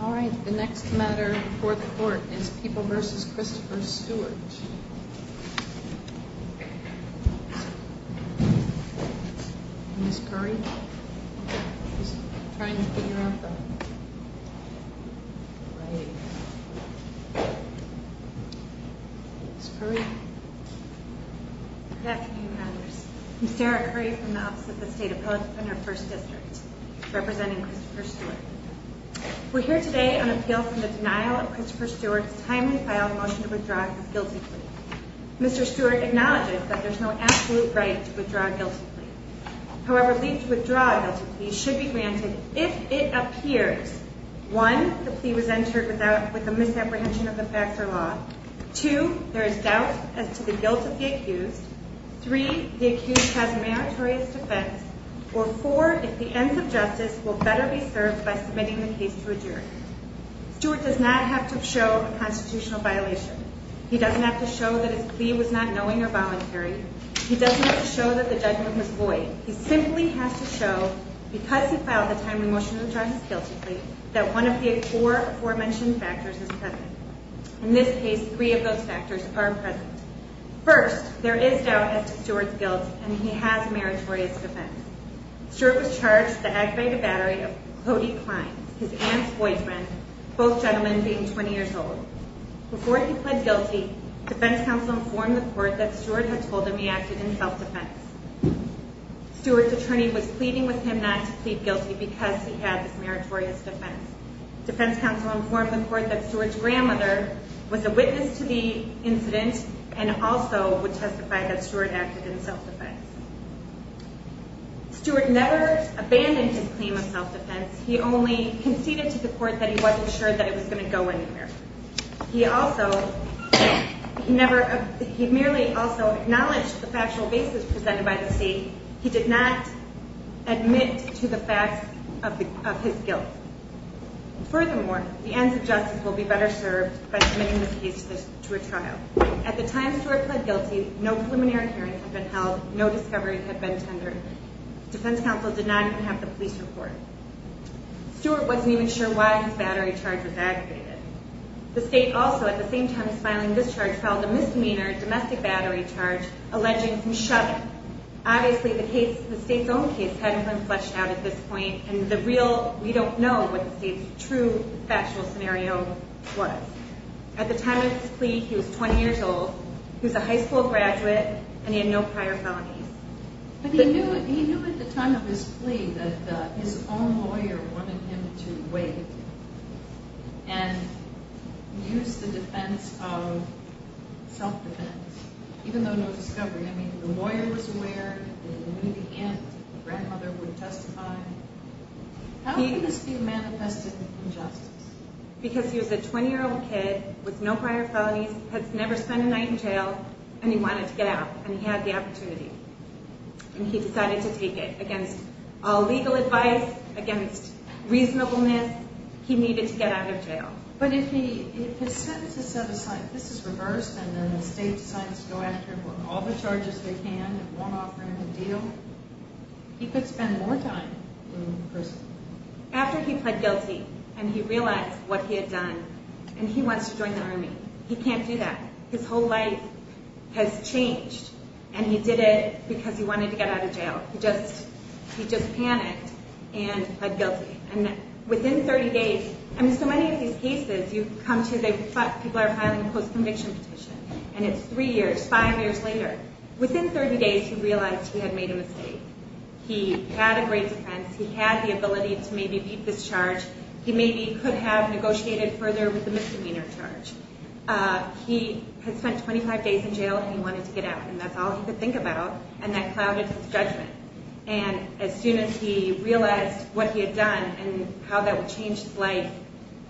All right, the next matter before the court is People v. Christopher Stewart. Ms. Curry is trying to figure out the writing. Ms. Curry. Good afternoon, members. I'm Sarah Curry from the Office of the State Appellate Defender, First District, representing Christopher Stewart. We're here today on appeal from the denial of Christopher Stewart's timely filed motion to withdraw his guilty plea. Mr. Stewart acknowledges that there's no absolute right to withdraw a guilty plea. However, leave to withdraw a guilty plea should be granted if it appears, one, the plea was entered with a misapprehension of the facts or law, two, there is doubt as to the guilt of the accused, three, the accused has a meritorious defense, or four, if the ends of justice will better be served by submitting the case to a jury. Stewart does not have to show a constitutional violation. He doesn't have to show that his plea was not knowing or voluntary. He doesn't have to show that the judgment was void. He simply has to show, because he filed the timely motion to withdraw his guilty plea, that one of the four aforementioned factors is present. In this case, three of those factors are present. First, there is doubt as to Stewart's guilt, and he has a meritorious defense. Stewart was charged with the aggravated battery of Cody Klein, his aunt's boyfriend, both gentlemen being 20 years old. Before he pled guilty, defense counsel informed the court that Stewart had told him he acted in self-defense. Stewart's attorney was pleading with him not to plead guilty because he had this meritorious defense. Defense counsel informed the court that Stewart's grandmother was a witness to the incident and also would testify that Stewart acted in self-defense. Stewart never abandoned his claim of self-defense. He only conceded to the court that he wasn't sure that it was going to go anywhere. He merely also acknowledged the factual basis presented by the state. He did not admit to the facts of his guilt. Furthermore, the ends of justice will be better served by submitting the case to a trial. At the time Stewart pled guilty, no preliminary hearings had been held, no discovery had been tendered. Defense counsel did not even have the police report. Stewart wasn't even sure why his battery charge was aggravated. The state also, at the same time as filing this charge, filed a misdemeanor domestic battery charge alleging from shoving. Obviously, the state's own case hadn't been fleshed out at this point, and we don't know what the state's true factual scenario was. At the time of his plea, he was 20 years old, he was a high school graduate, and he had no prior felonies. But he knew at the time of his plea that his own lawyer wanted him to wait and use the defense of self-defense, even though no discovery. I mean, the lawyer was aware, and when he began, the grandmother would testify. How could this be manifested in justice? Because he was a 20-year-old kid with no prior felonies, had never spent a night in jail, and he wanted to get out, and he had the opportunity. And he decided to take it. Against all legal advice, against reasonableness, he needed to get out of jail. But if his sentence is set aside, this is reversed, and then the state decides to go after him with all the charges they can and won't offer him a deal, he could spend more time in prison. After he pled guilty and he realized what he had done, and he wants to join the Army, he can't do that. His whole life has changed, and he did it because he wanted to get out of jail. He just panicked and pled guilty. And within 30 days, I mean, so many of these cases you come to, people are filing a post-conviction petition, and it's three years, five years later. Within 30 days, he realized he had made a mistake. He had a great defense. He had the ability to maybe beat this charge. He maybe could have negotiated further with the misdemeanor charge. He had spent 25 days in jail, and he wanted to get out, and that's all he could think about, and that clouded his judgment. And as soon as he realized what he had done and how that would change his life,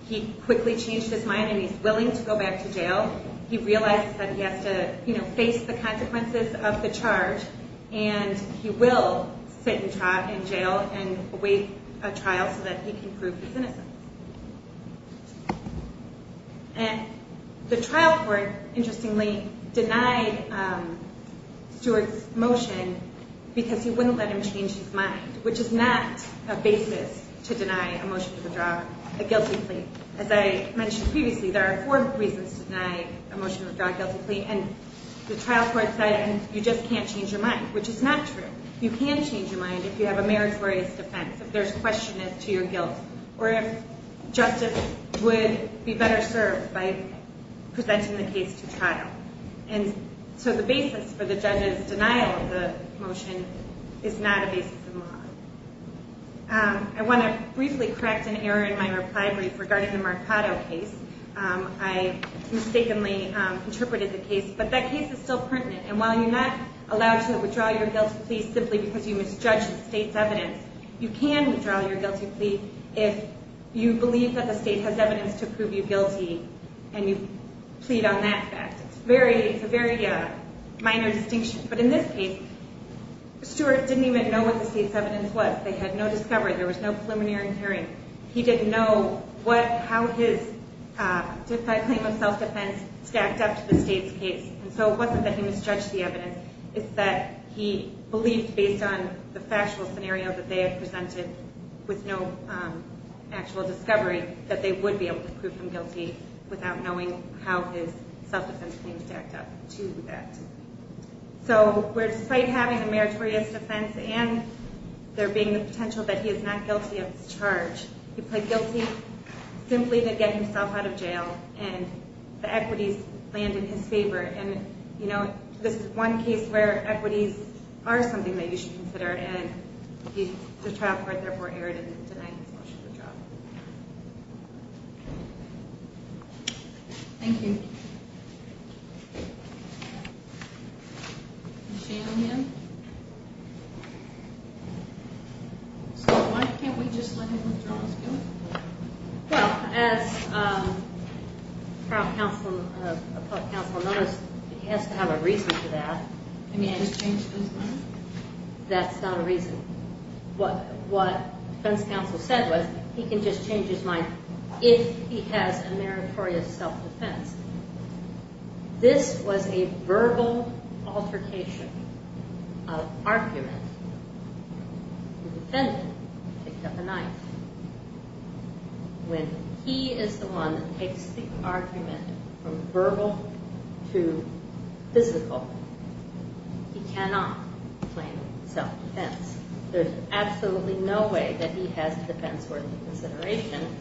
he quickly changed his mind, and he's willing to go back to jail. He realizes that he has to face the consequences of the charge, and he will sit in jail and await a trial so that he can prove his innocence. And the trial court, interestingly, denied Stewart's motion because he wouldn't let him change his mind, which is not a basis to deny a motion to withdraw a guilty plea. As I mentioned previously, there are four reasons to deny a motion to withdraw a guilty plea, and the trial court said you just can't change your mind, which is not true. You can change your mind if you have a meritorious defense, if there's question as to your guilt, or if justice would be better served by presenting the case to trial. And so the basis for the judge's denial of the motion is not a basis in law. I want to briefly correct an error in my reply brief regarding the Marcato case. I mistakenly interpreted the case, but that case is still pertinent, and while you're not allowed to withdraw your guilty plea simply because you misjudged the state's evidence, you can withdraw your guilty plea if you believe that the state has evidence to prove you guilty and you plead on that fact. It's a very minor distinction. But in this case, Stewart didn't even know what the state's evidence was. They had no discovery. There was no preliminary hearing. He didn't know how his claim of self-defense stacked up to the state's case, and so it wasn't that he misjudged the evidence. It's that he believed based on the factual scenario that they had presented with no actual discovery that they would be able to prove him guilty without knowing how his self-defense claims stacked up to that. So where despite having a meritorious defense and there being the potential that he is not guilty of this charge, he pled guilty simply to get himself out of jail, and the equities land in his favor. This is one case where equities are something that you should consider, and the trial court therefore erred in denying him such a good job. Thank you. So why can't we just let him withdraw his guilty plea? Well, as the appellate counsel noticed, he has to have a reason for that. Can he just change his mind? That's not a reason. What defense counsel said was he can just change his mind if he has a meritorious self-defense. This was a verbal altercation of argument. The defendant picked up a knife. When he is the one that takes the argument from verbal to physical, he cannot claim self-defense. There's absolutely no way that he has a defense worth consideration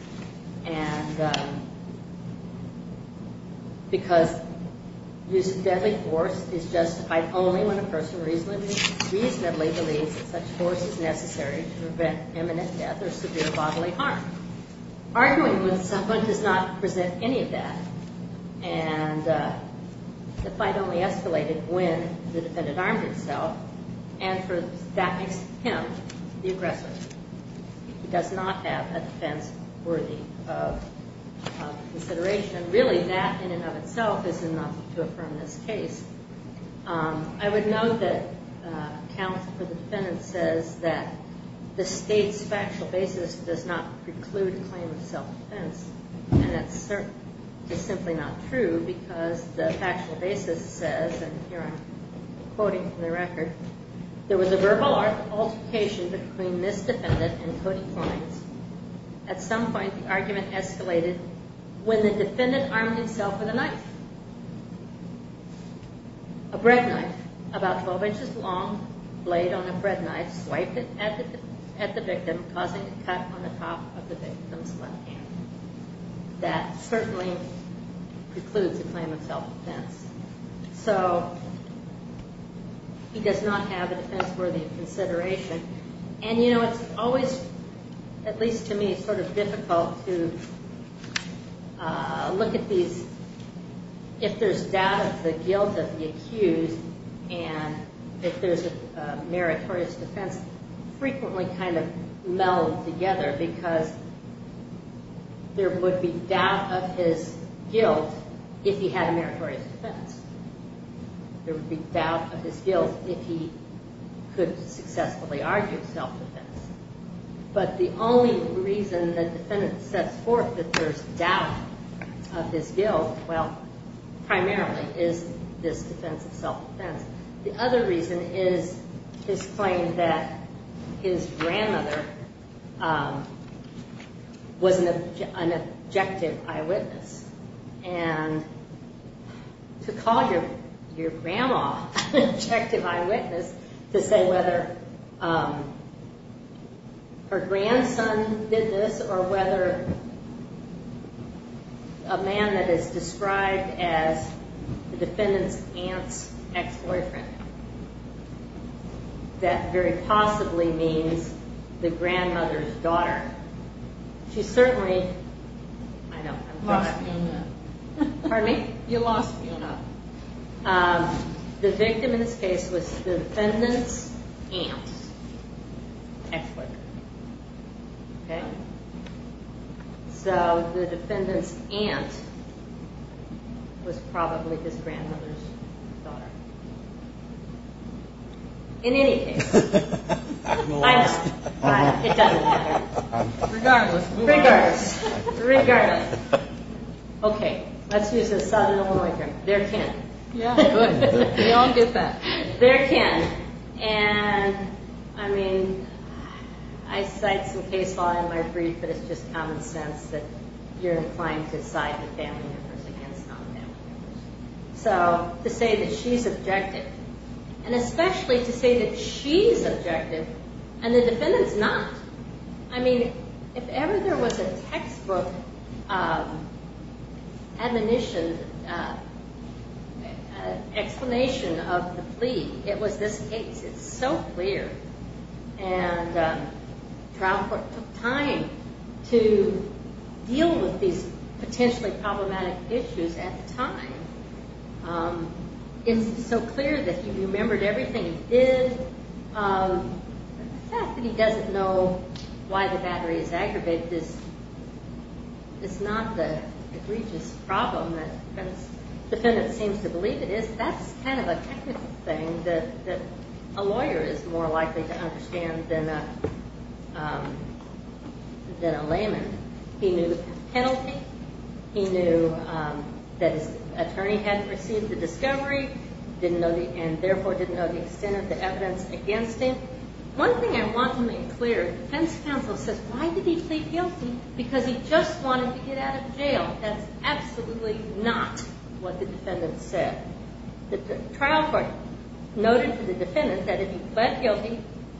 because using deadly force is justified only when a person reasonably believes that such force is necessary to prevent imminent death or severe bodily harm. Arguing with someone does not present any of that, and the fight only escalated when the defendant armed himself, and that makes him the aggressor. He does not have a defense worthy of consideration. Really, that in and of itself is enough to affirm this case. I would note that counsel for the defendant says that the state's factual basis does not preclude a claim of self-defense, and that's simply not true because the factual basis says, and here I'm quoting from the record, there was a verbal altercation between this defendant and Cody Clines. At some point, the argument escalated when the defendant armed himself with a knife, a bread knife, about 12 inches long, laid on a bread knife, swiped it at the victim, causing a cut on the top of the victim's left hand. That certainly precludes a claim of self-defense. So he does not have a defense worthy of consideration, and you know, it's always, at least to me, sort of difficult to look at these, if there's doubt of the guilt of the accused, and if there's a meritorious defense, frequently kind of meld together because there would be doubt of his guilt if he had a meritorious defense. There would be doubt of his guilt if he could successfully argue self-defense. But the only reason the defendant sets forth that there's doubt of his guilt, well, primarily is this defense of self-defense. The other reason is his claim that his grandmother was an objective eyewitness, and to call your grandma an objective eyewitness, to say whether her grandson did this or whether a man that is described as the defendant's aunt's ex-boyfriend, she certainly, I know, I'm drunk. Pardon me? You lost me on that. The victim in this case was the defendant's aunt's ex-boyfriend. Okay? So the defendant's aunt was probably his grandmother's daughter. In any case, I know. But it doesn't matter. Regardless. Regardless. Regardless. Okay. Let's use a Southern Illinois term, their kin. Yeah, good. We all get that. Their kin. And, I mean, I cite some case law in my brief, but it's just common sense that you're inclined to side with family members against family members. So to say that she's objective, and especially to say that she's objective and the defendant's not, I mean, if ever there was a textbook explanation of the plea, it was this case. It's so clear. And trial court took time to deal with these potentially problematic issues at the time. It's so clear that he remembered everything he did. The fact that he doesn't know why the battery is aggravated is not the egregious problem that the defendant seems to believe it is. That's kind of a technical thing that a lawyer is more likely to understand than a layman. He knew the penalty. He knew that his attorney hadn't received the discovery and therefore didn't know the extent of the evidence against him. One thing I want to make clear, the defense counsel says why did he plead guilty? Because he just wanted to get out of jail. That's absolutely not what the defendant said. The trial court noted to the defendant that if he pled guilty,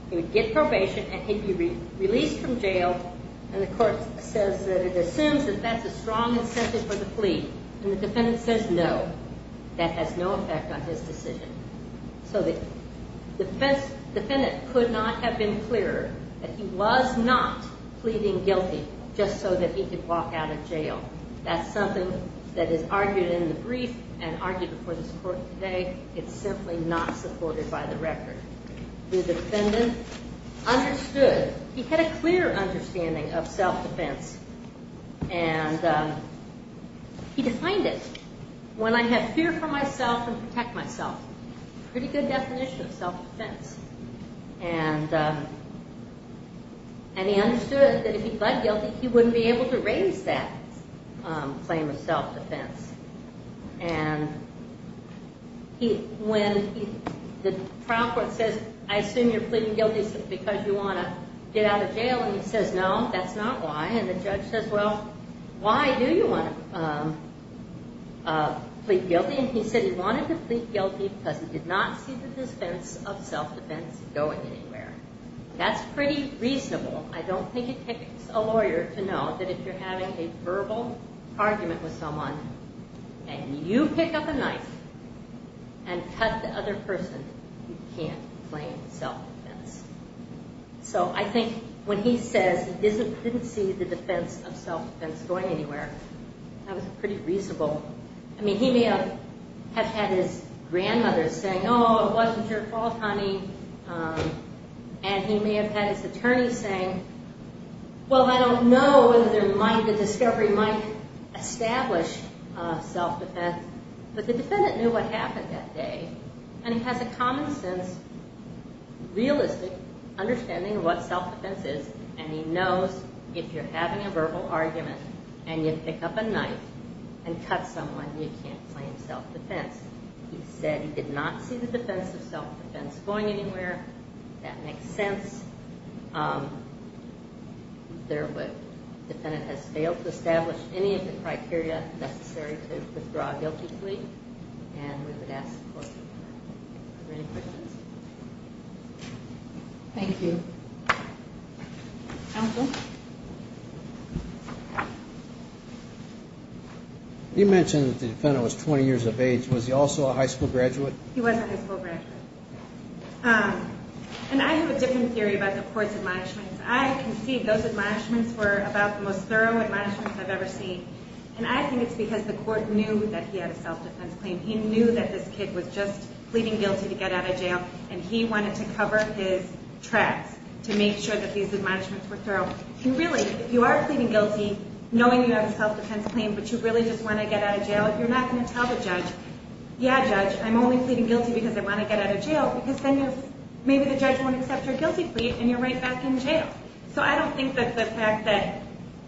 he would get probation and he'd be released from jail, and the court says that it assumes that that's a strong incentive for the plea, and the defendant says no. That has no effect on his decision. So the defendant could not have been clearer that he was not pleading guilty just so that he could walk out of jail. That's something that is argued in the brief and argued before this court today. It's simply not supported by the record. The defendant understood. He had a clear understanding of self-defense, and he defined it. When I have fear for myself and protect myself. Pretty good definition of self-defense. And he understood that if he pled guilty, he wouldn't be able to raise that claim of self-defense. And when the trial court says, I assume you're pleading guilty because you want to get out of jail, and he says, no, that's not why. And the judge says, well, why do you want to plead guilty? And he said he wanted to plead guilty because he did not see the defense of self-defense going anywhere. That's pretty reasonable. I don't think it takes a lawyer to know that if you're having a verbal argument with someone and you pick up a knife and cut the other person, you can't claim self-defense. So I think when he says he didn't see the defense of self-defense going anywhere, that was pretty reasonable. I mean, he may have had his grandmother saying, oh, it wasn't your fault, honey. And he may have had his attorney saying, well, I don't know whether the discovery might establish self-defense. But the defendant knew what happened that day. And he has a common sense, realistic understanding of what self-defense is, and he knows if you're having a verbal argument and you pick up a knife and cut someone, you can't claim self-defense. He said he did not see the defense of self-defense going anywhere. That makes sense. The defendant has failed to establish any of the criteria necessary to claim self-defense. Thank you. Counsel? You mentioned that the defendant was 20 years of age. Was he also a high school graduate? He was a high school graduate. And I have a different theory about the court's admonishments. I concede those admonishments were about the most thorough admonishments I've ever seen. And I think it's because the court knew that he had a self-defense claim. He knew that this kid was just pleading guilty to get out of jail, and he wanted to cover his tracks to make sure that these admonishments were thorough. Really, if you are pleading guilty, knowing you have a self-defense claim, but you really just want to get out of jail, you're not going to tell the judge, yeah, judge, I'm only pleading guilty because I want to get out of jail, because then maybe the judge won't accept your guilty plea and you're right back in jail. So I don't think that the fact that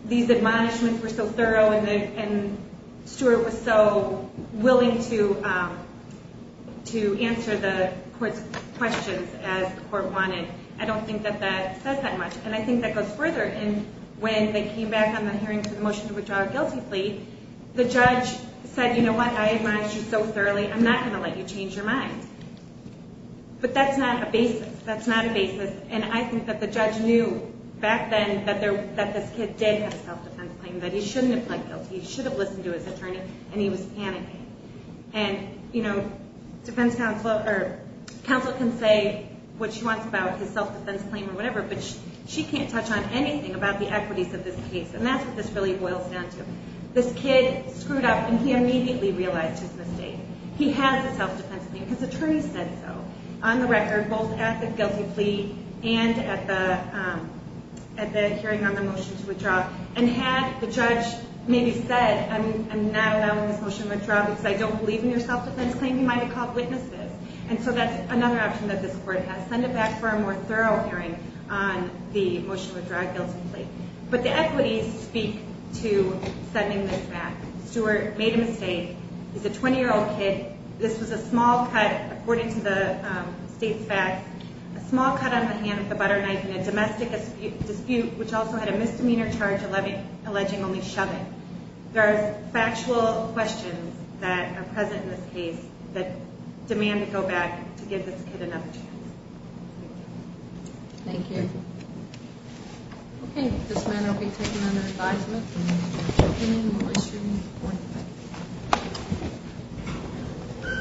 these admonishments were so thorough and Stewart was so willing to answer the court's questions as the court wanted, I don't think that that says that much. And I think that goes further. And when they came back on the hearing for the motion to withdraw a guilty plea, the judge said, you know what, I admonished you so thoroughly, I'm not going to let you change your mind. But that's not a basis. That's not a basis. And I think that the judge knew back then that this kid did have a self-defense claim, that he shouldn't have pled guilty, he should have listened to his attorney, and he was panicking. And, you know, defense counsel can say what she wants about his self-defense claim or whatever, but she can't touch on anything about the equities of this case, and that's what this really boils down to. This kid screwed up and he immediately realized his mistake. He has a self-defense claim. His attorney said so, on the record, both at the guilty plea and at the hearing on the motion to withdraw. And had the judge maybe said, I'm not allowing this motion to withdraw because I don't believe in your self-defense claim, he might have called witnesses. And so that's another option that this court has, send him back for a more thorough hearing on the motion to withdraw a guilty plea. But the equities speak to sending this back. Stewart made a mistake. He's a 20-year-old kid. This was a small cut, according to the state's facts, a small cut on the hand of the butternut in a domestic dispute, which also had a misdemeanor charge alleging only shoving. There are factual questions that are present in this case that demand to go back to give this kid another chance. Thank you. Thank you. Okay, this matter will be taken under advisement. The hearing will resume at 4 p.m.